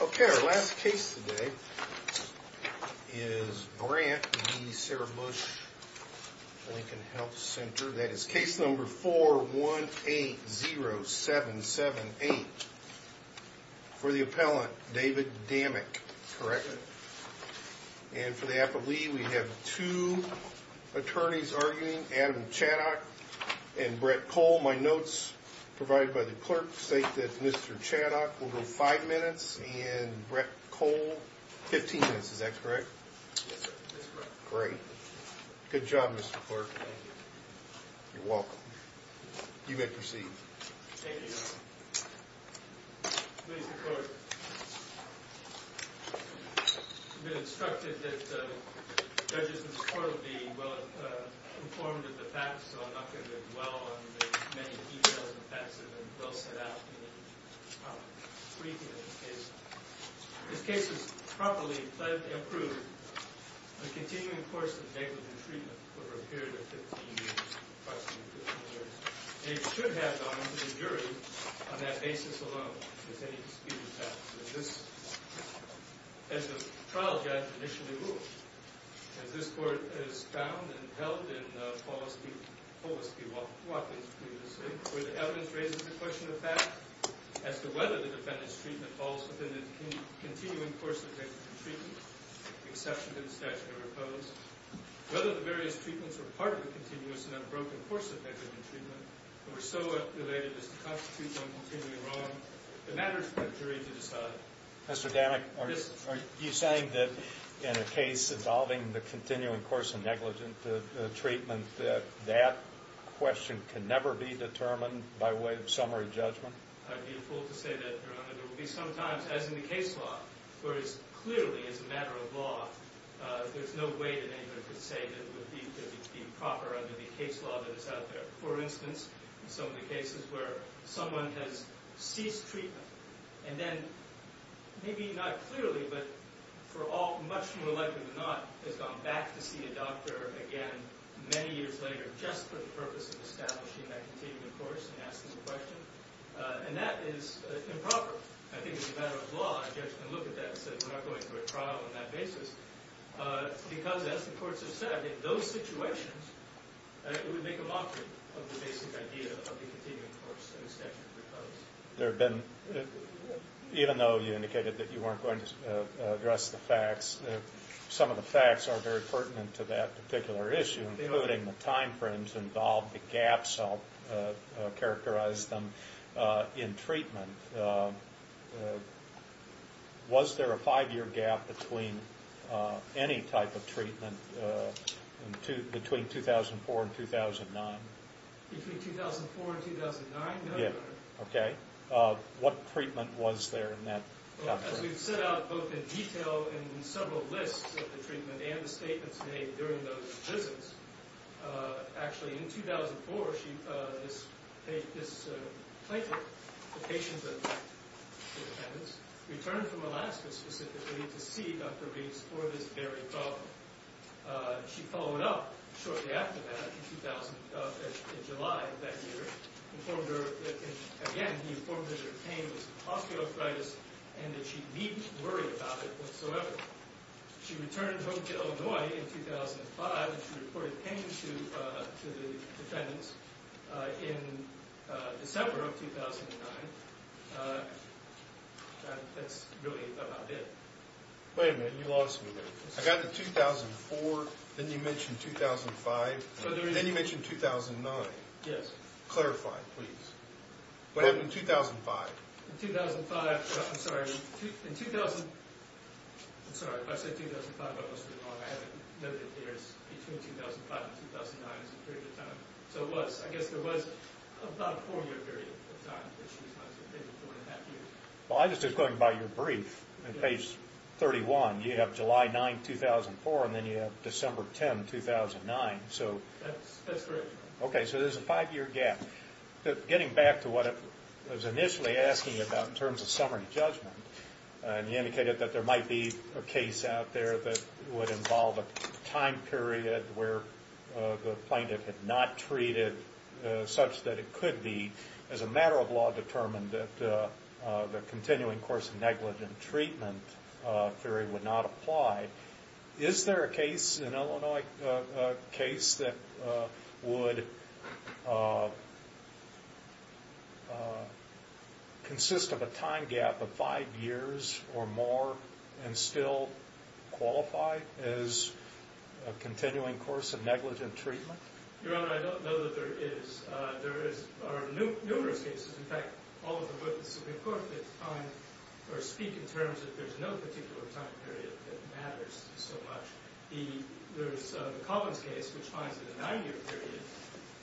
Okay, our last case today is Brant v. Sarah Bush Lincoln Health Center. That is case number 4180778. For the appellant, David Damick, correct? And for the appellee, we have two attorneys arguing, Adam Chaddock and Brett Cole. All my notes provided by the clerk state that Mr. Chaddock will go five minutes and Brett Cole, 15 minutes. Is that correct? Yes, sir. That's correct. Great. Good job, Mr. Clerk. Thank you. You're welcome. You may proceed. Thank you, Your Honor. Please, Your Court. It's been instructed that judges in this court will be well-informed of the facts, so I'm not going to dwell on the many details and facts that have been well set out in the brief in this case. This case is properly, pledgedly approved. A continuing course of negligent treatment for a period of 15 years, approximately 15 years. It should have gone to the jury on that basis alone, if any dispute has happened. As the trial judge initially ruled, as this court has found and held in Polisky-Watkins previously, where the evidence raises the question of fact as to whether the defendant's treatment falls within the continuing course of negligent treatment, with the exception of the statute of repose, whether the various treatments were part of the continuous and unbroken course of negligent treatment and were so related as to constitute them continually wrong, it matters for the jury to decide. Mr. Danek, are you saying that in a case involving the continuing course of negligent treatment, that that question can never be determined by way of summary judgment? I'd be a fool to say that, Your Honor. There will be some times, as in the case law, where it's clearly, as a matter of law, there's no way that anyone can say that it would be proper under the case law that is out there. For instance, in some of the cases where someone has ceased treatment and then, maybe not clearly, but for all, much more likely than not, has gone back to see a doctor again many years later just for the purpose of establishing that continuing course and asking the question, and that is improper, I think, as a matter of law. A judge can look at that and say, we're not going through a trial on that basis, because, as the courts have said, in those situations, it would make a mockery of the basic idea of the continuing course and the statute of repose. There have been, even though you indicated that you weren't going to address the facts, some of the facts are very pertinent to that particular issue, including the timeframes involved, the gaps, I'll characterize them, in treatment. Was there a five-year gap between any type of treatment between 2004 and 2009? Between 2004 and 2009? Yeah. Okay. What treatment was there in that? Well, as we've set out both in detail and in several lists of the treatment and the statements made during those visits, actually, in 2004, this plaintiff, the patient of the defendants, returned from Alaska specifically to see Dr. Rees for this very problem. She followed up shortly after that in July of that year, and again, he informed her that her pain was osteoarthritis and that she needn't worry about it whatsoever. She returned home to Illinois in 2005, and she reported pain to the defendants in December of 2009, and that's really about it. Wait a minute. You lost me there. I got to 2004, then you mentioned 2005, then you mentioned 2009. Yes. Clarify, please. What happened in 2005? In 2005, I'm sorry. In 2000, I'm sorry. If I say 2005, I must be wrong. I haven't noted it here. It's between 2005 and 2009 is the period of time. So it was. I guess there was about a four-year period of time that she was not taking, maybe four and a half years. Well, I was just going by your brief on page 31. You have July 9, 2004, and then you have December 10, 2009. That's correct. Okay, so there's a five-year gap. Getting back to what I was initially asking about in terms of summary judgment, and you indicated that there might be a case out there that would involve a time period where the plaintiff had not treated such that it could be, as a matter of law, determined that the continuing course of negligent treatment theory would not apply. Is there a case in Illinois, a case that would consist of a time gap of five years or more and still qualify as a continuing course of negligent treatment? Your Honor, I don't know that there is. There are numerous cases. In fact, all of the witnesses in court speak in terms that there's no particular time period that matters so much. The Collins case, which finds that a nine-year period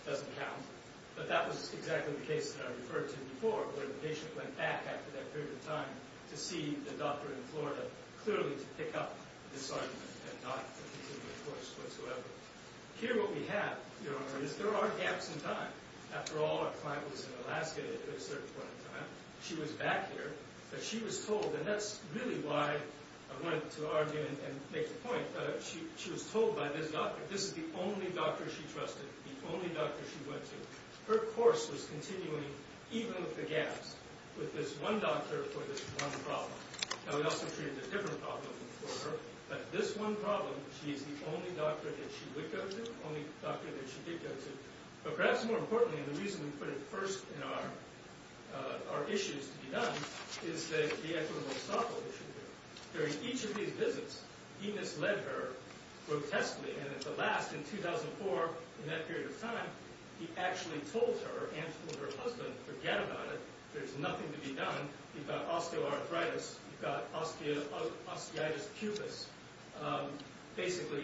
doesn't count, but that was exactly the case that I referred to before where the patient went back after that period of time to see the doctor in Florida clearly to pick up this argument and not continue the course whatsoever. Here what we have, Your Honor, is there are gaps in time. After all, our client was in Alaska at a certain point in time. She was back here, but she was told, and that's really why I wanted to argue and make the point, she was told by this doctor, this is the only doctor she trusted, the only doctor she went to. Her course was continuing even with the gaps, with this one doctor for this one problem. Now, we also treated a different problem for her, but this one problem, she is the only doctor that she would go to, the only doctor that she did go to. But perhaps more importantly, and the reason we put it first in our issues to be done, is that the equitable softball issue here. During each of these visits, he misled her grotesquely, and at the last, in 2004, in that period of time, he actually told her and told her husband, forget about it, there's nothing to be done. You've got osteoarthritis, you've got osteitis pupus. Basically,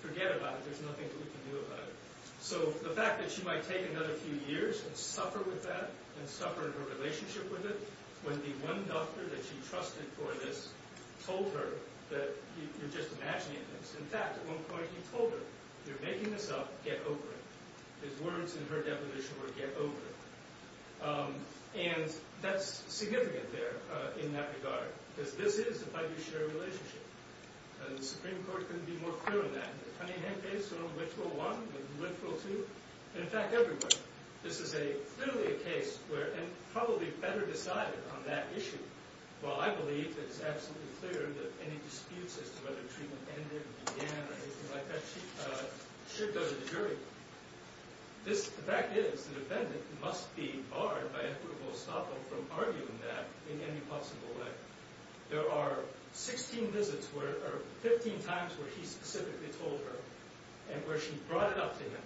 forget about it, there's nothing that we can do about it. So the fact that she might take another few years and suffer with that, and suffer in her relationship with it, when the one doctor that she trusted for this told her that you're just imagining things. In fact, at one point he told her, you're making this up, get over it. His words in her deposition were, get over it. And that's significant there in that regard, because this is a fiduciary relationship. And the Supreme Court couldn't be more clear on that. The Cunningham case went to Rule 1, went to Rule 2, and in fact, everywhere. This is clearly a case where, and probably better decided on that issue, while I believe that it's absolutely clear that any disputes as to whether treatment ended or began or anything like that, should go to the jury. The fact is, the defendant must be barred by equitable estoppel from arguing that in any possible way. There are 16 visits, or 15 times where he specifically told her, and where she brought it up to him,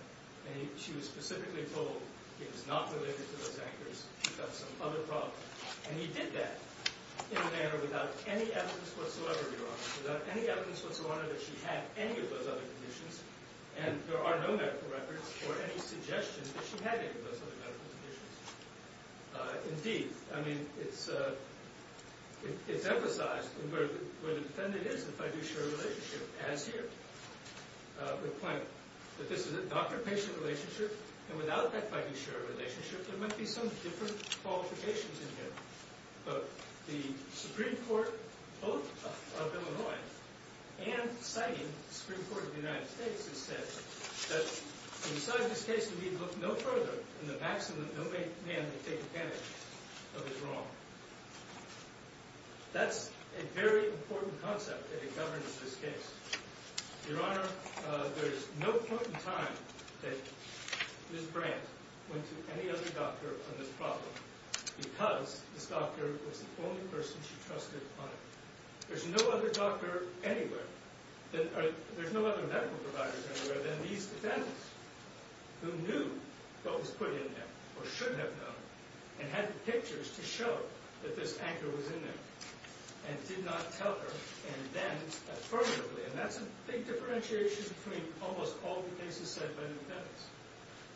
and she was specifically told it was not related to those anchors, she felt some other problem. And he did that in a manner without any evidence whatsoever, Your Honor, without any evidence whatsoever that she had any of those other conditions, and there are no medical records or any suggestions that she had any of those other medical conditions. Indeed, I mean, it's emphasized where the defendant is in the fiduciary relationship, as here. The point that this is a doctor-patient relationship, and without that fiduciary relationship, there might be some different qualifications in here. But the Supreme Court, both of Illinois and citing the Supreme Court of the United States, has said that in deciding this case, we need look no further than the maximum no man may take advantage of his wrong. That's a very important concept that governs this case. Your Honor, there is no point in time that Ms. Brandt went to any other doctor on this problem because this doctor was the only person she trusted on it. There's no other doctor anywhere, there's no other medical provider anywhere than these defendants who knew what was put in there, or should have known, and had the pictures to show that this anchor was in there, and did not tell her, and then affirmatively. And that's a big differentiation between almost all the cases said by the defendants.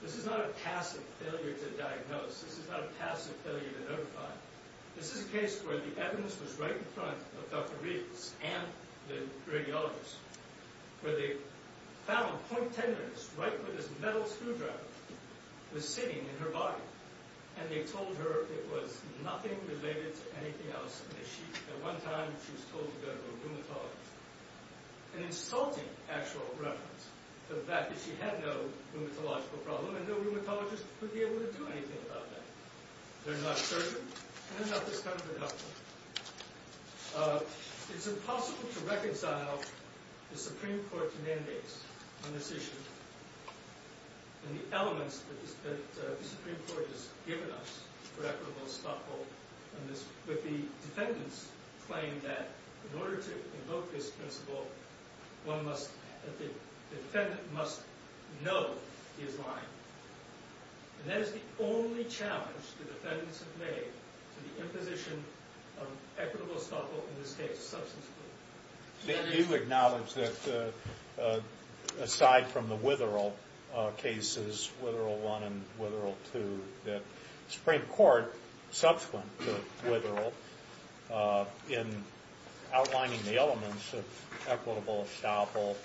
This is not a passive failure to diagnose, this is not a passive failure to notify. This is a case where the evidence was right in front of Dr. Riggs and the radiologist, where they found point tendons right where this metal screwdriver was sitting in her body, and they told her it was nothing related to anything else, and at one time she was told to go to a rheumatologist. An insulting actual reference to the fact that she had no rheumatological problem, and no rheumatologist would be able to do anything about that. They're not surgeons, and they're not this country's hospitals. It's impossible to reconcile the Supreme Court's mandates on this issue, and the elements that the Supreme Court has given us for equitable stop-hold on this, with the defendants' claim that in order to invoke this principle, the defendant must know he is lying. And that is the only challenge the defendants have made to the imposition of equitable stop-hold in this case. You acknowledge that aside from the Witherall cases, Witherall I and Witherall II, that the Supreme Court subsequent to Witherall in outlining the elements of equitable stop-hold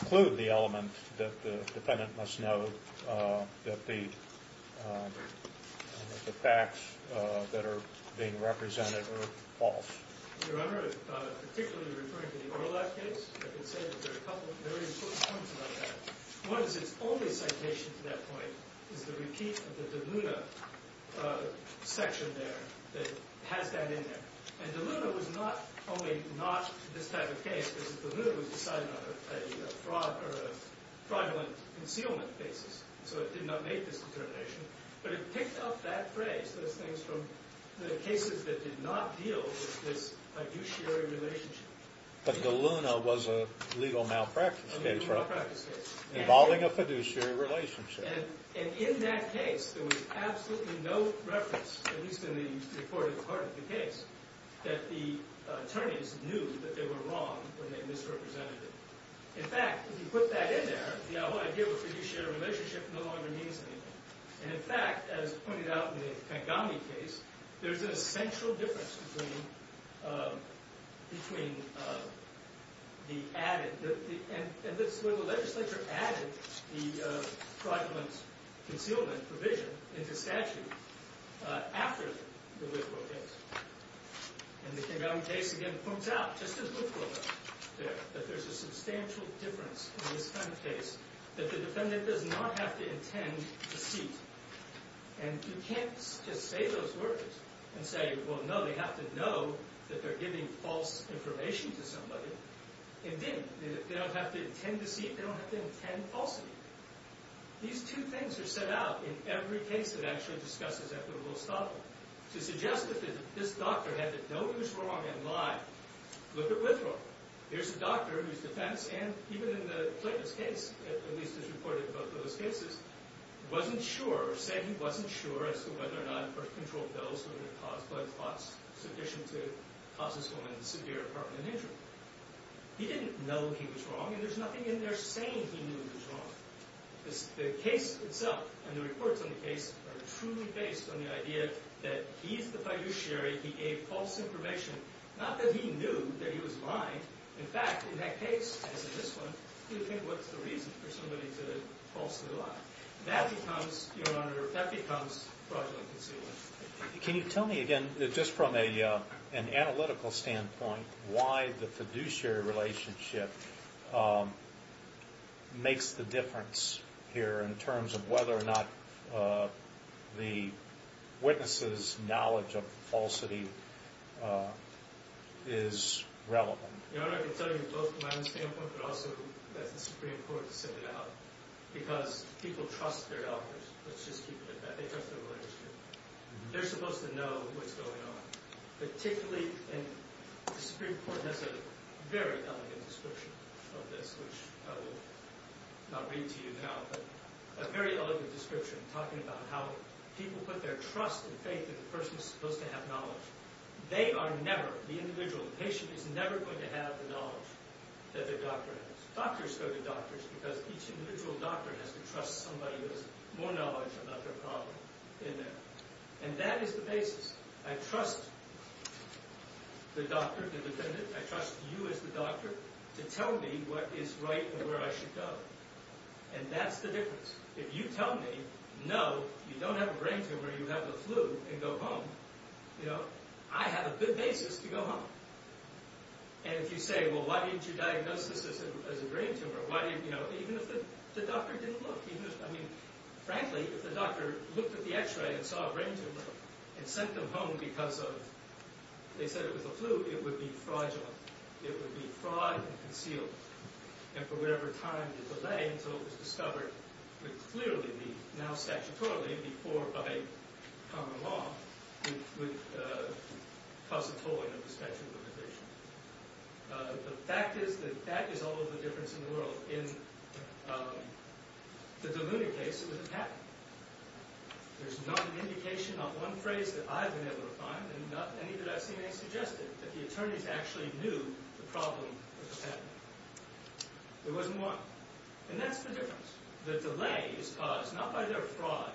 include the element that the defendant must know that the facts that are being represented are false. Do you remember particularly referring to the Orlock case? I can say that there are a couple of very important points about that. One is its only citation to that point is the repeat of the DeLuna section there that has that in there. And DeLuna was not only not this type of case, because DeLuna was decided on a fraudulent concealment basis, so it did not make this determination. But it picked up that phrase, those things from the cases that did not deal with this fiduciary relationship. But DeLuna was a legal malpractice case, right? A legal malpractice case. Involving a fiduciary relationship. And in that case, there was absolutely no reference, at least in the recorded part of the case, that the attorneys knew that they were wrong when they misrepresented it. In fact, if you put that in there, the whole idea of a fiduciary relationship no longer means anything. And in fact, as pointed out in the Kagame case, there's an essential difference between the added, and this is where the legislature added the fraudulent concealment provision into statute after the Woodrow case. And the Kagame case, again, points out, just as Woodrow did there, that there's a substantial difference in this kind of case. That the defendant does not have to intend deceit. And you can't just say those words and say, well, no, they have to know that they're giving false information to somebody. They didn't. They don't have to intend deceit. They don't have to intend falsity. These two things are set out in every case that actually discusses equitable establishment. To suggest that this doctor had to know he was wrong and lie, look at Woodrow. Here's a doctor whose defense, and even in Clayton's case, at least as reported in both of those cases, wasn't sure, or said he wasn't sure as to whether or not birth control pills were going to cause blood clots sufficient to cause this woman severe heart and lung injury. He didn't know he was wrong, and there's nothing in there saying he knew he was wrong. The case itself and the reports on the case are truly based on the idea that he's the fiduciary, he gave false information, not that he knew that he was lying. In fact, in that case, as in this one, he didn't think what's the reason for somebody to falsely lie. That becomes, Your Honor, that becomes fraudulent concealment. Can you tell me again, just from an analytical standpoint, why the fiduciary relationship makes the difference here in terms of whether or not the witness's knowledge of falsity is relevant? Your Honor, I can tell you both from my own standpoint, but also that it's pretty important to send it out, because people trust their doctors, let's just keep it at that. They trust their relationship. They're supposed to know what's going on. Particularly, and the Supreme Court has a very elegant description of this, which I will not read to you now, but a very elegant description talking about how people put their trust and faith in the person who's supposed to have knowledge. They are never, the individual, the patient is never going to have the knowledge that their doctor has. Doctors go to doctors because each individual doctor has to trust somebody who has more knowledge about their problem in there. And that is the basis. I trust the doctor, the defendant. I trust you as the doctor to tell me what is right and where I should go. And that's the difference. If you tell me, No, you don't have a brain tumor, you have the flu, and go home, you know, I have a good basis to go home. And if you say, Well, why didn't you diagnose this as a brain tumor? Even if the doctor didn't look. I mean, frankly, if the doctor looked at the x-ray and saw a brain tumor and sent them home because they said it was a flu, it would be fraudulent. It would be fraud and concealed. And for whatever time you delay until it was discovered, it would clearly be, now statutorily, before by common law, it would cause a tolling of the statute of limitations. The fact is that that is all of the difference in the world. In the DeLuna case, it was a patent. There's not an indication, not one phrase that I've been able to find, and not any that I've seen any suggested, that the attorneys actually knew the problem with the patent. There wasn't one. And that's the difference. The delay is caused not by their fraud,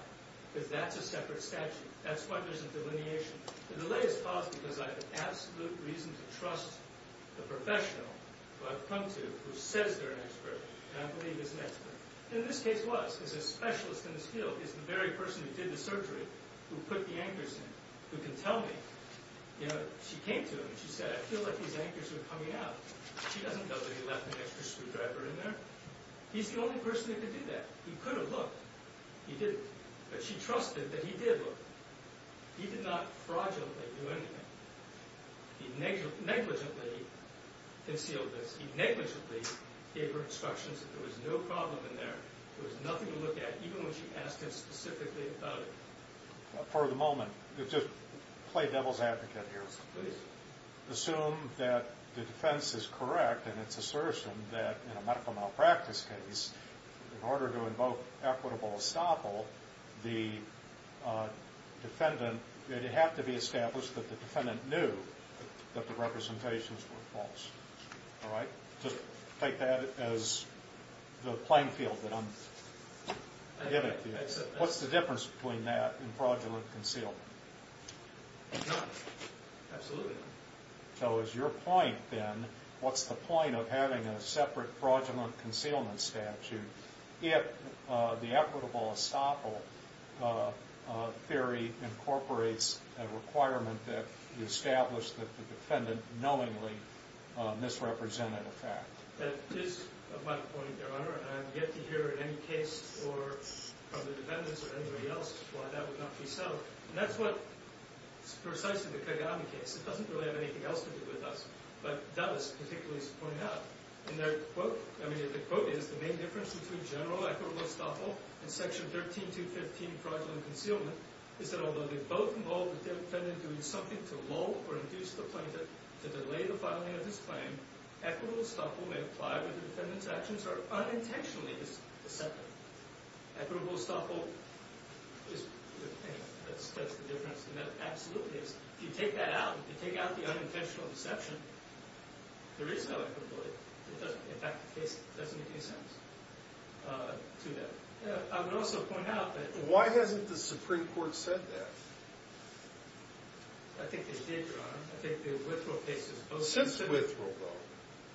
because that's a separate statute. That's why there's a delineation. The delay is caused because I have absolute reason to trust the professional who I've come to, who says they're an expert, and I believe is an expert. And this case was, because the specialist in this field is the very person who did the surgery, who put the anchors in, who can tell me. You know, she came to him and she said, I feel like these anchors are coming out. She doesn't know that he left an extra screwdriver in there. He's the only person who could do that. He could have looked. He didn't. But she trusted that he did look. He did not fraudulently do anything. He negligently concealed this. He negligently gave her instructions that there was no problem in there. There was nothing to look at, even when she asked him specifically about it. For the moment, just play devil's advocate here. Please. Assume that the defense is correct in its assertion that in a medical malpractice case, in order to invoke equitable estoppel, the defendant, it would have to be established that the defendant knew that the representations were false. All right? Just take that as the playing field that I'm giving to you. What's the difference between that and fraudulent concealment? None. Absolutely none. So is your point, then, what's the point of having a separate fraudulent concealment statute if the equitable estoppel theory incorporates a requirement that we establish that the defendant knowingly misrepresented a fact? That is my point, Your Honor. I have yet to hear in any case from the defendants or anybody else why that would not be so. And that's what's precise in the Kagame case. It doesn't really have anything else to do with us. But that was particularly pointed out in their quote. I mean, the quote is, the main difference between general equitable estoppel and Section 13215 fraudulent concealment is that although they both involve the defendant doing something to lull or induce the plaintiff to delay the filing of his claim, equitable estoppel may apply when the defendant's actions are unintentionally deceptive. Equitable estoppel is the thing that sets the difference. And that absolutely is. If you take that out, if you take out the unintentional deception, there is no equitability. In fact, the case doesn't make any sense to them. I would also point out that why hasn't the Supreme Court said that? I think they did, Your Honor. I think the Withrow case has both said that. Since Withrow, though,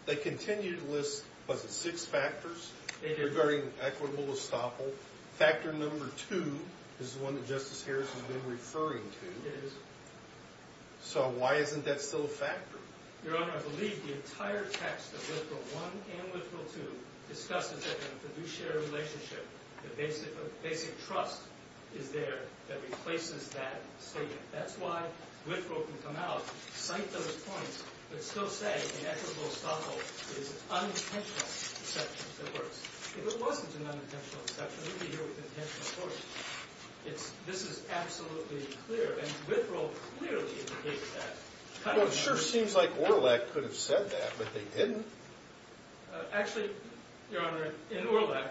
they continue to list, what, six factors? They do. Regarding equitable estoppel. Factor number two is the one that Justice Harris has been referring to. It is. So why isn't that still a factor? Your Honor, I believe the entire text of Withrow I and Withrow II discusses the fiduciary relationship, the basic trust is there that replaces that statement. That's why Withrow can come out, cite those points, but still say that equitable estoppel is an unintentional deception that works. If it wasn't an unintentional deception, it would be here with intentional force. This is absolutely clear, and Withrow clearly indicates that. Well, it sure seems like Orleck could have said that, but they didn't. Actually, Your Honor, in Orleck,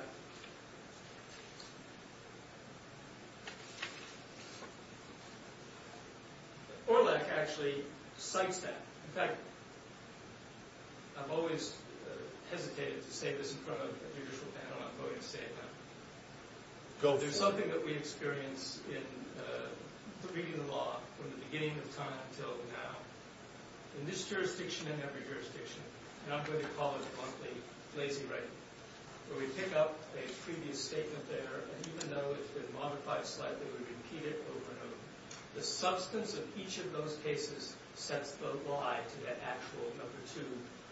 Orleck actually cites that. In fact, I've always hesitated to say this in front of a judicial panel. I'm going to say it now. Go for it. There's something that we experience in the reading of the law from the beginning of time until now, in this jurisdiction and every jurisdiction, and I'm going to call it, bluntly, lazy writing, where we pick up a previous statement there, and even though it's been modified slightly, we repeat it over and over. The substance of each of those cases sets the lie to that actual number two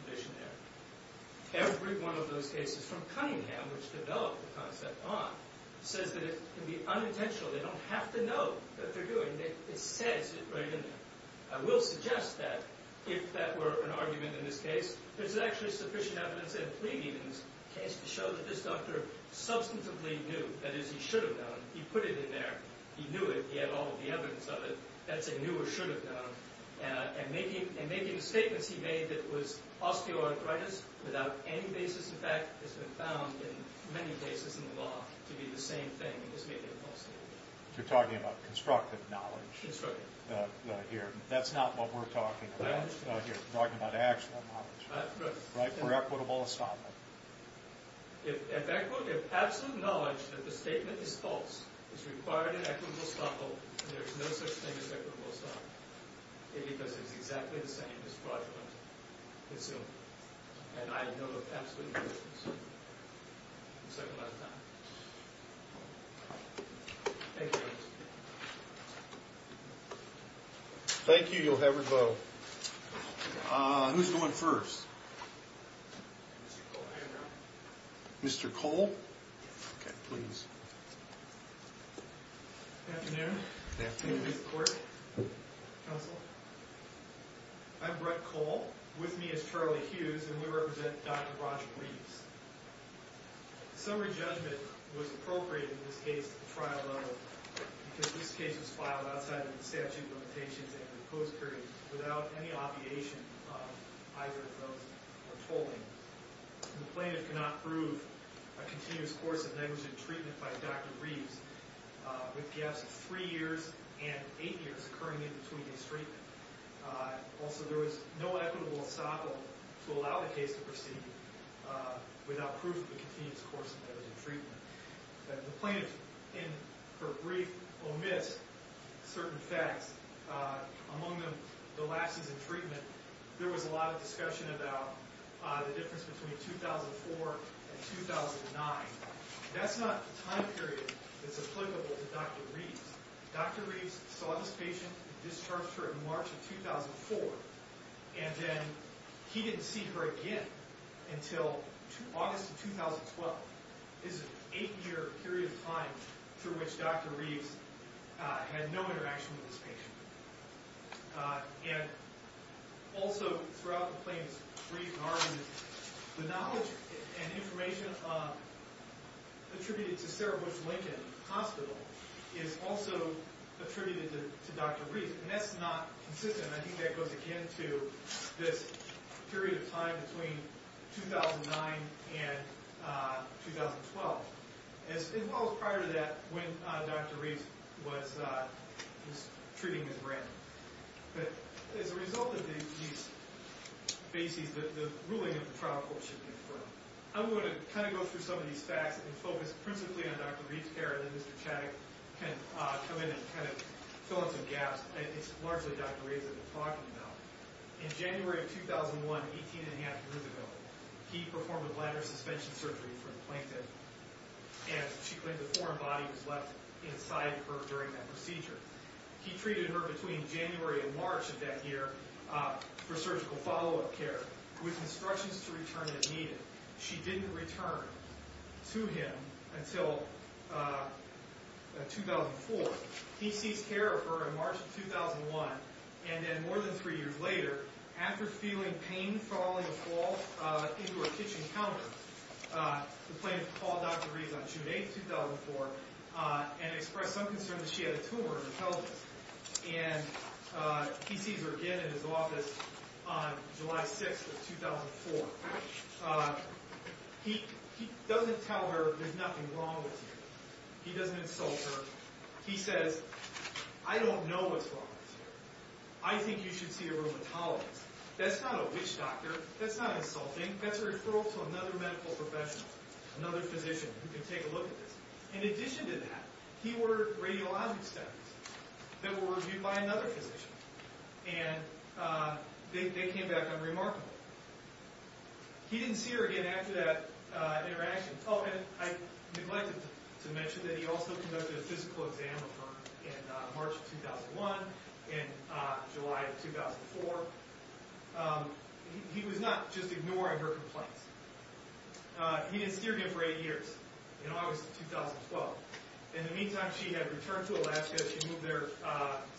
condition there. Every one of those cases from Cunningham, which developed the concept on, says that it can be unintentional. They don't have to know that they're doing it. It says it right in there. I will suggest that, if that were an argument in this case, there's actually sufficient evidence and pleading in this case to show that this doctor substantively knew, that is, he should have known. He put it in there. He knew it. He had all of the evidence of it. That's a knew or should have known. And making statements he made that was osteoarthritis without any basis in fact has been found in many cases in the law to be the same thing, and has made it impossible. You're talking about constructive knowledge here. That's not what we're talking about here. We're talking about actual knowledge. Right? For equitable estoppel. If absolute knowledge that the statement is false is required in equitable estoppel, there's no such thing as equitable estoppel, because it's exactly the same as fraudulent concealment. And I know of absolute evidence. We're second last time. Thank you. You'll have your vote. Who's going first? Mr. Cole. Mr. Cole? Okay, please. Good afternoon. Good afternoon. Mr. Clerk. Counsel. I'm Brett Cole. With me is Charlie Hughes, and we represent Dr. Roger Reeves. Summary judgment was appropriate in this case to the trial level because this case was filed outside of the statute of limitations and the post period without any obviation of either of those or tolling. The plaintiff cannot prove a continuous course of negligent treatment by Dr. Reeves with gaps of three years and eight years occurring in between his treatment. Also, there was no equitable estoppel to allow the case to proceed without proof of a continuous course of negligent treatment. The plaintiff, in her brief, omits certain facts, among them the last season treatment. There was a lot of discussion about the difference between 2004 and 2009. That's not the time period that's applicable to Dr. Reeves. Dr. Reeves saw this patient and discharged her in March of 2004, and then he didn't see her again until August of 2012. This is an eight-year period of time through which Dr. Reeves had no interaction with this patient. Also, throughout the plaintiff's brief and argument, the knowledge and information attributed to Sarah Bush Lincoln Hospital is also attributed to Dr. Reeves, and that's not consistent. I think that goes again to this period of time between 2009 and 2012, as well as prior to that when Dr. Reeves was treating his brand. But as a result of these bases, the ruling of the trial court should be affirmed. I'm going to kind of go through some of these facts and focus principally on Dr. Reeves' care, and then Mr. Chaddock can come in and kind of fill in some gaps. It's largely Dr. Reeves that we're talking about. In January of 2001, 18 1⁄2 years ago, he performed a bladder suspension surgery for the plaintiff, and she claimed a foreign body was left inside her during that procedure. He treated her between January and March of that year for surgical follow-up care, with instructions to return if needed. She didn't return to him until 2004. He ceased care of her in March of 2001, and then more than three years later, after feeling pain following a fall into her kitchen counter, the plaintiff called Dr. Reeves on June 8, 2004, and expressed some concern that she had a tumor in her pelvis. And he sees her again in his office on July 6 of 2004. He doesn't tell her there's nothing wrong with you. He doesn't insult her. He says, I don't know what's wrong with you. I think you should see a rheumatologist. That's not a witch doctor. That's not insulting. That's a referral to another medical professional, another physician, who can take a look at this. In addition to that, he ordered radiologic studies that were reviewed by another physician, and they came back unremarkable. He didn't see her again after that interaction. Oh, and I neglected to mention that he also conducted a physical exam of her in March of 2001 and July of 2004. He was not just ignoring her complaints. He didn't see her again for eight years in August of 2012. In the meantime, she had returned to Alaska. She said she moved there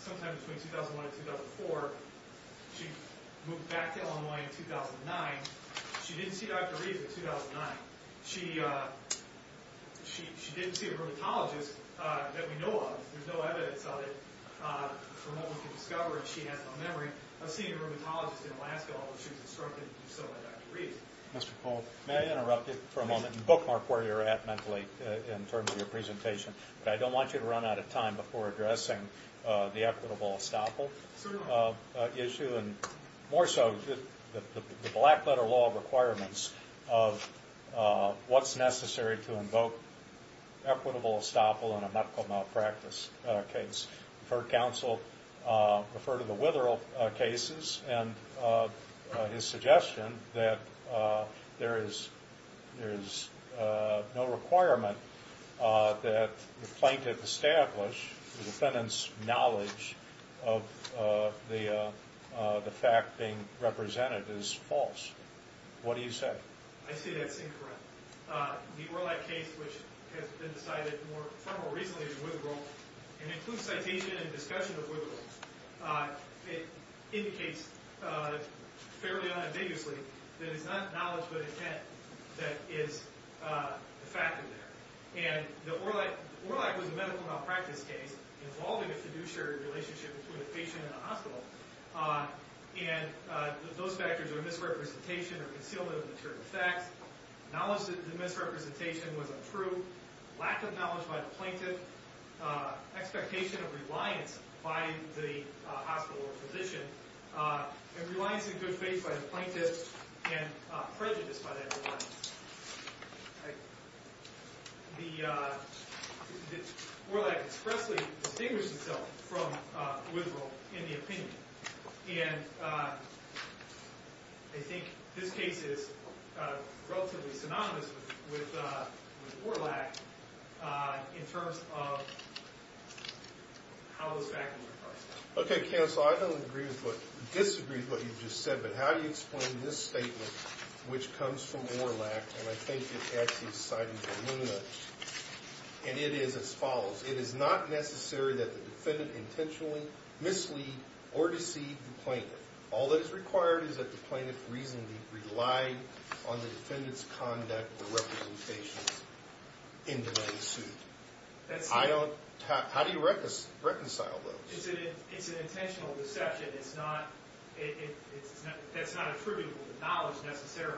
sometime between 2001 and 2004. She moved back to Illinois in 2009. She didn't see Dr. Reeves in 2009. She didn't see a rheumatologist that we know of. There's no evidence of it from what we can discover if she has no memory. I've seen a rheumatologist in Alaska, although she was instructed to do so by Dr. Reeves. Mr. Cole, may I interrupt you for a moment and bookmark where you're at mentally in terms of your presentation? I don't want you to run out of time before addressing the equitable estoppel issue and more so the black-letter law requirements of what's necessary to invoke equitable estoppel in a medical malpractice case. I've heard counsel refer to the Witherall cases and his suggestion that there is no requirement that the plaintiff establish the defendant's knowledge of the fact being represented as false. What do you say? I say that's incorrect. The Orlack case, which has been decided more recently in Witherall and includes citation and discussion of Witherall, it indicates fairly unambiguously that it's not knowledge but intent that is the factor there. And Orlack was a medical malpractice case involving a fiduciary relationship between a patient and a hospital, and those factors are misrepresentation or concealment of material facts, knowledge that the misrepresentation was untrue, lack of knowledge by the plaintiff, expectation of reliance by the hospital or physician, and reliance in good faith by the plaintiff and prejudice by that reliance. Orlack expressly distinguished himself from Witherall in the opinion, and I think this case is relatively synonymous with Orlack in terms of how those factors are parsed. Okay, counsel, I don't agree with or disagree with what you've just said, but how do you explain this statement, which comes from Orlack, and I think it actually cites Illumina, and it is as follows. It is not necessary that the defendant intentionally mislead or deceive the plaintiff. All that is required is that the plaintiff reasonably rely on the defendant's conduct or representations. How do you reconcile those? It's an intentional deception. That's not attributable to knowledge necessarily.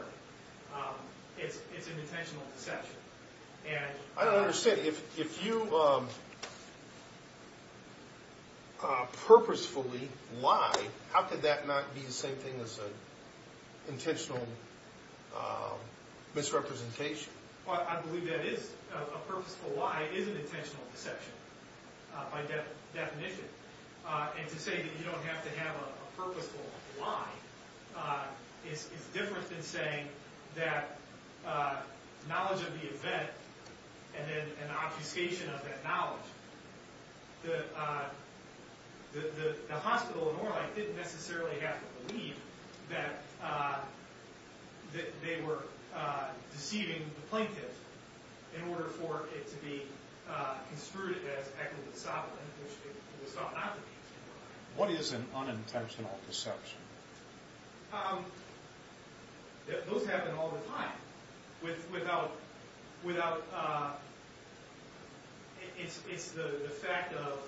It's an intentional deception. I don't understand. If you purposefully lie, how could that not be the same thing as an intentional misrepresentation? I believe that a purposeful lie is an intentional deception by definition, and to say that you don't have to have a purposeful lie is different than saying that knowledge of the event and then an obfuscation of that knowledge, the hospital in Orlack didn't necessarily have to believe that they were deceiving the plaintiff in order for it to be construed as equitable sovereign, which it was not. What is an unintentional deception? Those happen all the time. It's the fact of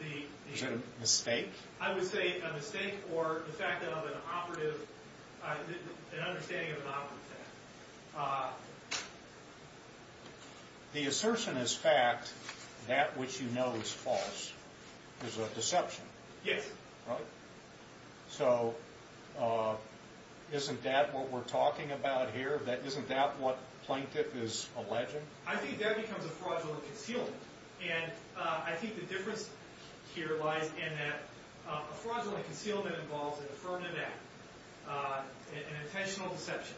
the... Is that a mistake? I would say a mistake or an understanding of an operative fact. The assertion is fact. That which you know is false is a deception. Yes. So isn't that what we're talking about here? Isn't that what the plaintiff is alleging? I think that becomes a fraudulent concealment, and I think the difference here lies in that a fraudulent concealment involves an affirmative act, an intentional deception,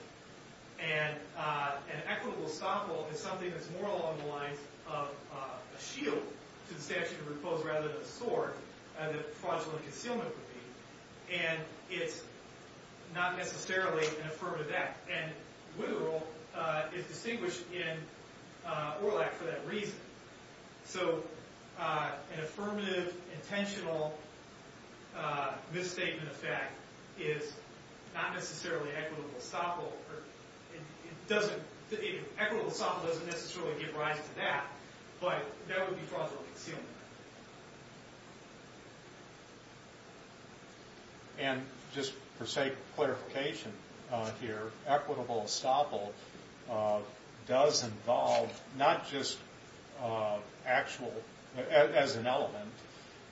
and an equitable estoppel is something that's more along the lines of a shield to the statute of repose rather than a sword that a fraudulent concealment would be, and it's not necessarily an affirmative act. And literal is distinguished in Orlack for that reason. So an affirmative, intentional misstatement of fact is not necessarily equitable estoppel. It doesn't... Equitable estoppel doesn't necessarily give rise to that, but that would be fraudulent concealment. And just for sake of clarification here, equitable estoppel does involve not just actual, as an element,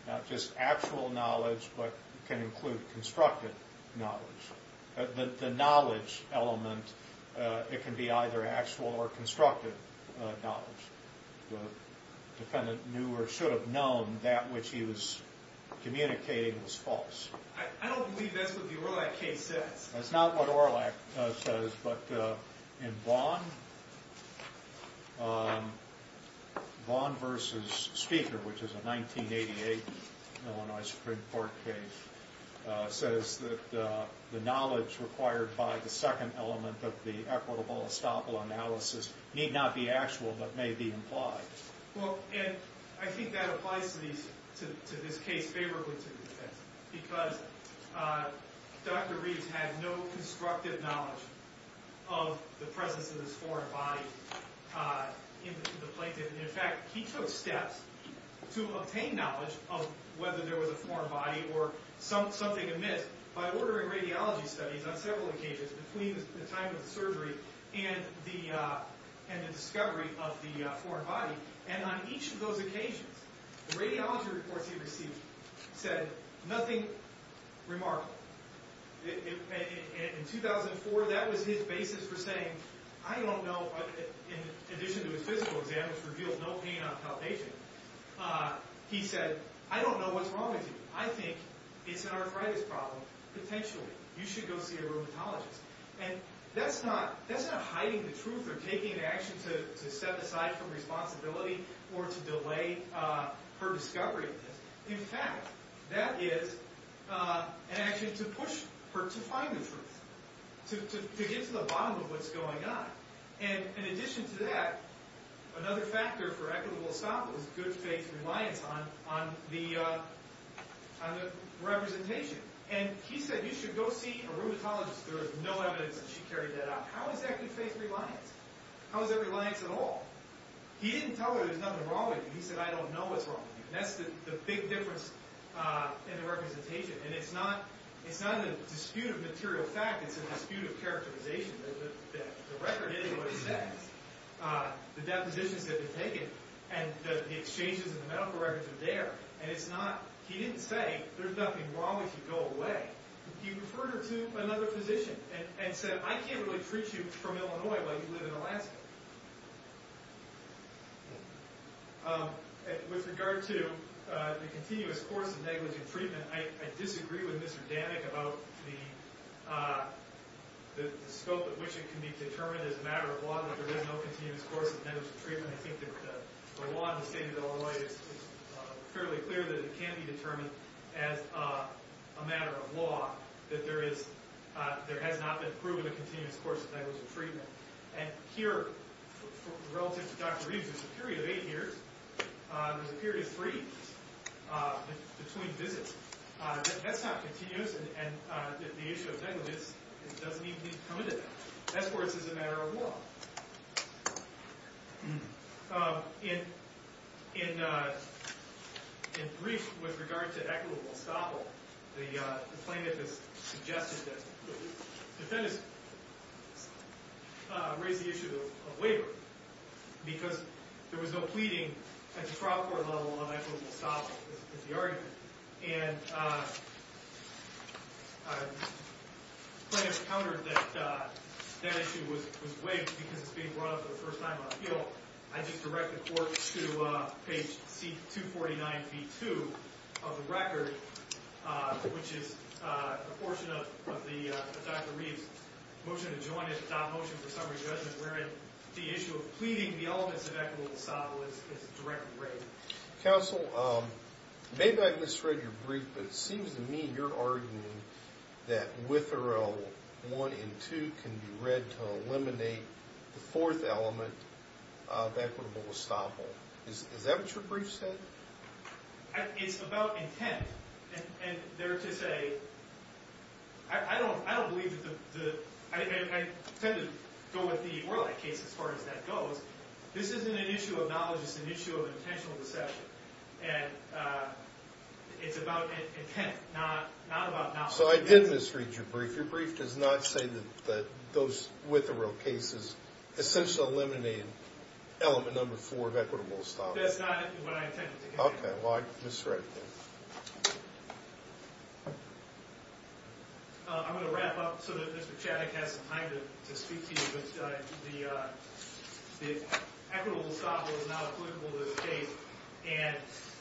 not just actual knowledge but can include constructed knowledge. The knowledge element, it can be either actual or constructed knowledge. The defendant knew or should have known that which he was communicating was false. I don't believe that's what the Orlack case says. That's not what Orlack says, but in Vaughn, Vaughn v. Speaker, which is a 1988 Illinois Supreme Court case, says that the knowledge required by the second element of the equitable estoppel analysis need not be actual but may be implied. Well, Ed, I think that applies to this case favorably to the defense because Dr. Reeves had no constructed knowledge of the presence of this foreign body in the plaintiff. In fact, he took steps to obtain knowledge of whether there was a foreign body or something amiss by ordering radiology studies on several occasions between the time of the surgery and the discovery of the foreign body. And on each of those occasions, the radiology reports he received said nothing remarkable. In 2004, that was his basis for saying, I don't know, in addition to his physical exam, which reveals no pain on palpation, he said, I don't know what's wrong with you. I think it's an arthritis problem, potentially. You should go see a rheumatologist. And that's not hiding the truth or taking an action to set aside from responsibility or to delay her discovery of this. In fact, that is an action to push her to find the truth, to get to the bottom of what's going on. And in addition to that, another factor for equitable estoppel was good faith reliance on the representation. And he said, you should go see a rheumatologist. There is no evidence that she carried that out. How is that good faith reliance? How is that reliance at all? He didn't tell her there was nothing wrong with you. He said, I don't know what's wrong with you. And that's the big difference in the representation. And it's not a dispute of material fact. It's a dispute of characterization. The record is what it says. The depositions have been taken. And the exchanges and the medical records are there. He didn't say, there's nothing wrong if you go away. He referred her to another physician and said, I can't really treat you from Illinois while you live in Alaska. With regard to the continuous course of negligent treatment, I disagree with Mr. Danik about the scope at which it can be determined as a matter of law that there is no continuous course of negligent treatment. I think the law in the state of Illinois is fairly clear that it can be determined as a matter of law that there has not been proven a continuous course of negligent treatment. And here, relative to Dr. Reeves, there's a period of eight years. There's a period of three years between visits. That's not continuous. And the issue of negligence doesn't even need to come to that. Esports is a matter of law. In brief, with regard to equitable estoppel, the plaintiff has suggested that the defendants raise the issue of waiver because there was no pleading at the trial court level of equitable estoppel. That's the argument. And the plaintiff countered that that issue was waived because it's being brought up for the first time on appeal. I just direct the court to page 249b-2 of the record, which is a portion of Dr. Reeves' motion to adopt motion for summary judgment wherein the issue of pleading the elements of equitable estoppel is directly raised. Counsel, maybe I misread your brief, but it seems to me your argument that Witherell 1 and 2 can be read to eliminate the fourth element of equitable estoppel. Is that what your brief said? It's about intent. And there to say, I don't believe that the – I tend to go with the Orlik case as far as that goes. This isn't an issue of knowledge. It's an issue of intentional deception. And it's about intent, not about knowledge. So I did misread your brief. Your brief does not say that those Witherell cases essentially eliminate element number four of equitable estoppel. That's not what I intended to get at. Okay. Well, I misread it then. I'm going to wrap up so that Mr. Chaddick has some time to speak to you but the equitable estoppel is now applicable to this case and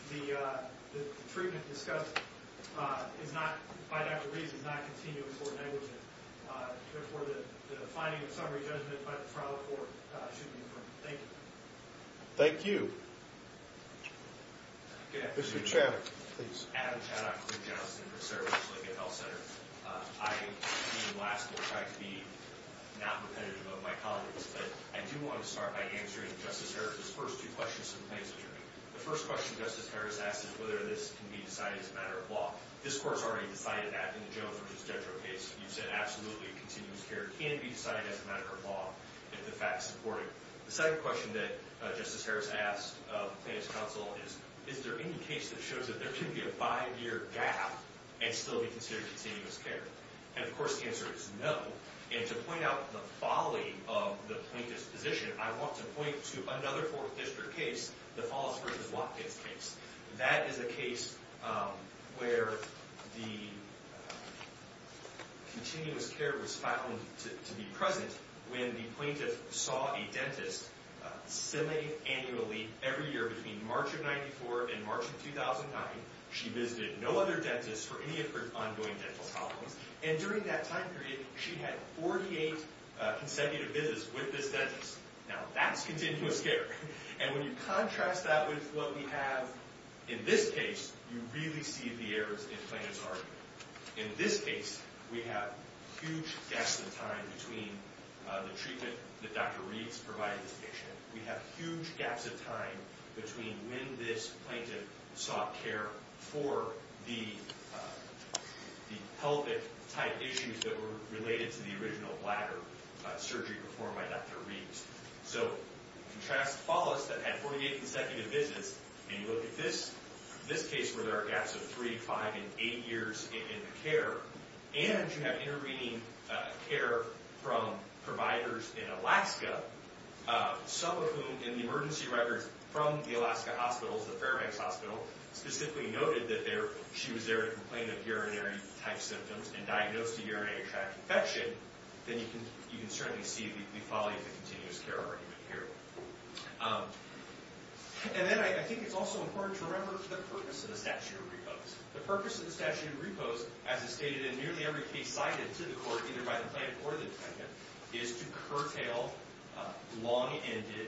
the treatment discussed by Dr. Rees is not continuing for negligence. Therefore, the finding of summary judgment by the trial court should be affirmed. Thank you. Thank you. Good afternoon. Mr. Chaddick, please. Adam Chaddick with the Office of Information Services, Lincoln Health Center. I, being last, will try to be not repetitive of my colleagues. But I do want to start by answering Justice Harris's first two questions from the plaintiff's hearing. The first question Justice Harris asked is whether this can be decided as a matter of law. This court has already decided that in the Jones v. Jedrow case. You said absolutely continuous care can be decided as a matter of law if the fact is supported. The second question that Justice Harris asked the plaintiff's counsel is is there any case that shows that there can be a five-year gap and still be considered continuous care? And, of course, the answer is no. And to point out the folly of the plaintiff's position, I want to point to another Fourth District case, the Follis v. Watkins case. That is a case where the continuous care was found to be present when the plaintiff saw a dentist semiannually every year between March of 1994 and March of 2009. She visited no other dentist for any of her ongoing dental problems. And during that time period, she had 48 consecutive visits with this dentist. Now, that's continuous care. And when you contrast that with what we have in this case, you really see the errors in the plaintiff's argument. In this case, we have huge gaps in time between the treatment that Dr. Reeds provided the patient. We have huge gaps in time between when this plaintiff sought care for the pelvic-type issues that were related to the original bladder surgery performed by Dr. Reeds. So contrast Follis that had 48 consecutive visits, and you look at this case where there are gaps of 3, 5, and 8 years in the care, and you have intervening care from providers in Alaska, some of whom in the emergency records from the Alaska hospitals, the Fairbanks Hospital, specifically noted that she was there to complain of urinary-type symptoms and diagnose the urinary tract infection, then you can certainly see the folly of the continuous care argument here. And then I think it's also important to remember the purpose of the statute of repose. The purpose of the statute of repose, as is stated in nearly every case cited to the court, either by the plaintiff or the defendant, is to curtail long-ended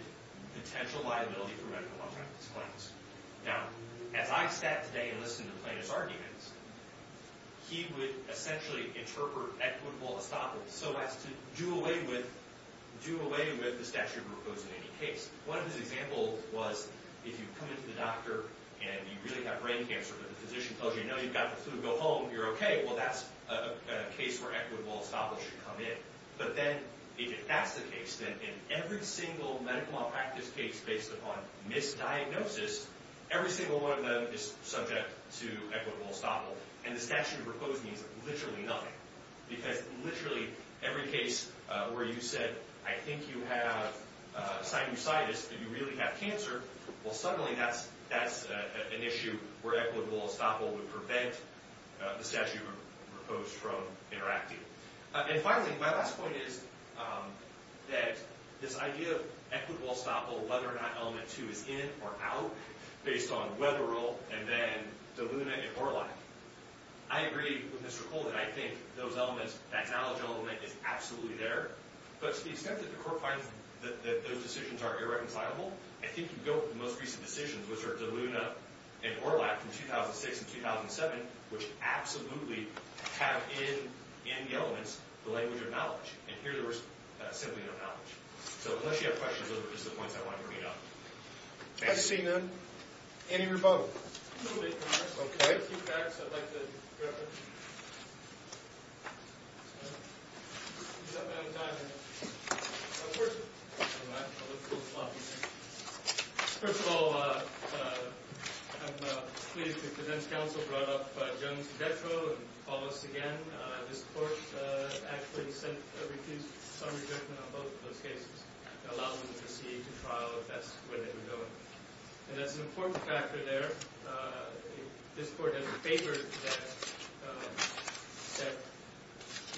potential liability for medical malpractice claims. Now, as I sat today and listened to the plaintiff's arguments, he would essentially interpret equitable estoppel so as to do away with the statute of repose in any case. One of his examples was if you come into the doctor and you really have brain cancer, but the physician tells you, no, you've got the flu, go home, you're okay, well, that's a case where equitable estoppel should come in. But then if that's the case, then in every single medical malpractice case based upon misdiagnosis, every single one of them is subject to equitable estoppel, and the statute of repose means literally nothing. Because literally every case where you said, I think you have sinusitis, but you really have cancer, well, suddenly that's an issue where equitable estoppel would prevent the statute of repose from interacting. And finally, my last point is that this idea of equitable estoppel, whether or not element two is in or out, based on Weberil and then DeLuna and Orlak, I agree with Mr. Cole that I think those elements, that knowledge element is absolutely there. But to the extent that the court finds that those decisions are irreconcilable, I think you go with the most recent decisions, which are DeLuna and Orlak from 2006 and 2007, which absolutely have in the elements the language of knowledge. And here there was simply no knowledge. So unless you have questions, those are just the points I wanted to bring up. Thank you. I see none. Any rebuttal? A little bit. Okay. First of all, I'm pleased that the defense counsel brought up Jones-Detro and Wallace again. This court actually refused some rejection on both of those cases. It allowed them to proceed to trial if that's where they were going. And that's an important factor there. This court has favored that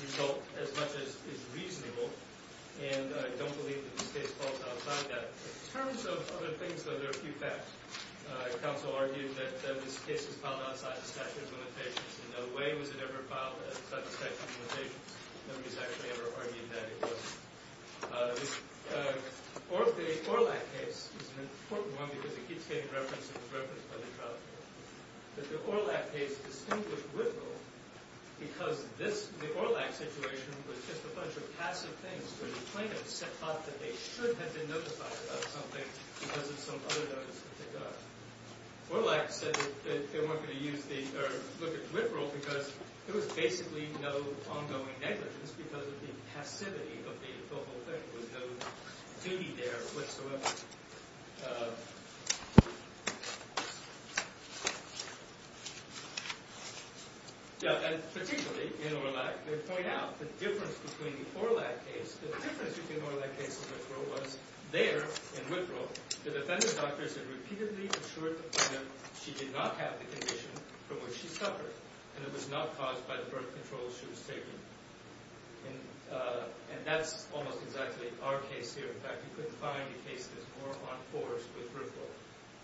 result as much as is reasonable. And I don't believe that this case falls outside that. In terms of other things, though, there are a few facts. In no way was it ever filed at such expectations. Nobody's actually ever argued that it was. The Orlak case is an important one because it keeps getting referenced and is referenced by the trial court. But the Orlak case distinguished Whitville because the Orlak situation was just a bunch of passive things where the plaintiffs thought that they should have been notified about something because of some other notice that they got. Orlak said that they weren't going to look at Whitville because there was basically no ongoing negligence because of the passivity of the whole thing. There was no duty there whatsoever. Particularly in Orlak, they point out the difference between the Orlak case and the difference between the Orlak case and Whitville was there in Whitville, the defendant's doctors had repeatedly assured the plaintiff she did not have the condition from which she suffered and it was not caused by the birth control she was taking. And that's almost exactly our case here. In fact, you couldn't find a case that's more on force with Whitville.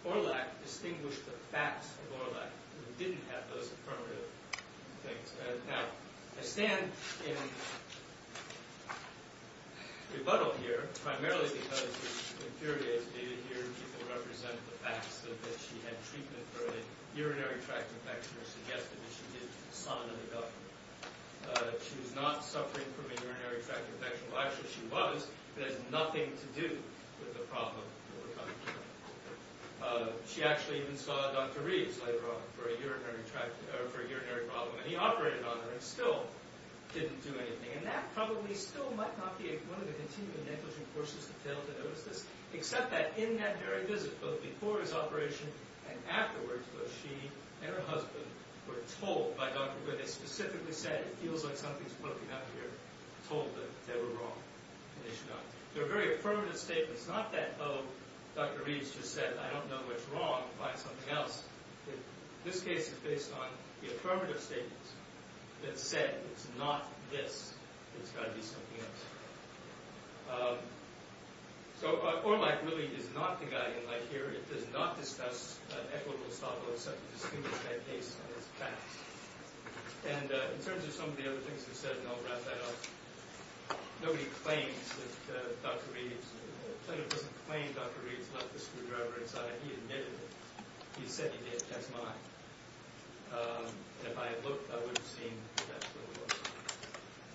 Orlak distinguished the facts of Orlak. We didn't have those affirmative things. Now, I stand in rebuttal here primarily because it infuriates me to hear people represent the facts that she had treatment for a urinary tract infection or suggested that she did sign on a doctor. She was not suffering from a urinary tract infection. Well, actually she was, but it has nothing to do with the problem that we're talking about. She actually even saw Dr. Reeves later on for a urinary tract or for a urinary problem. And he operated on her and still didn't do anything. And that probably still might not be one of the continuing negligent forces that failed to notice this, except that in that very visit, both before his operation and afterwards, where she and her husband were told by Dr. Goode, they specifically said it feels like something's broken up here, told them they were wrong and they should not. So a very affirmative statement. It's not that, oh, Dr. Reeves just said I don't know what's wrong, find something else. This case is based on the affirmative statement that said it's not this, it's got to be something else. So ORLAC really is not the guy in light here. It does not discuss equitable solvency to distinguish that case from its facts. And in terms of some of the other things you said, and I'll wrap that up, nobody claims that Dr. Reeves, the clinic doesn't claim Dr. Reeves left the screwdriver inside. He admitted it. He said he did. That's mine. And if I had looked, I would have seen that's what it was.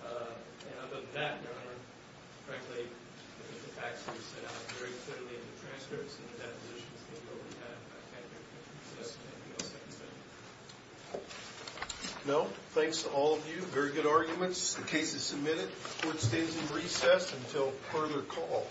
And other than that, Your Honor, frankly, the facts were set out very clearly in the transcripts and the depositions that you already have. I can't think of anything else I can say. No? Thanks to all of you. Very good arguments. The case is submitted. Court stays in recess until further call.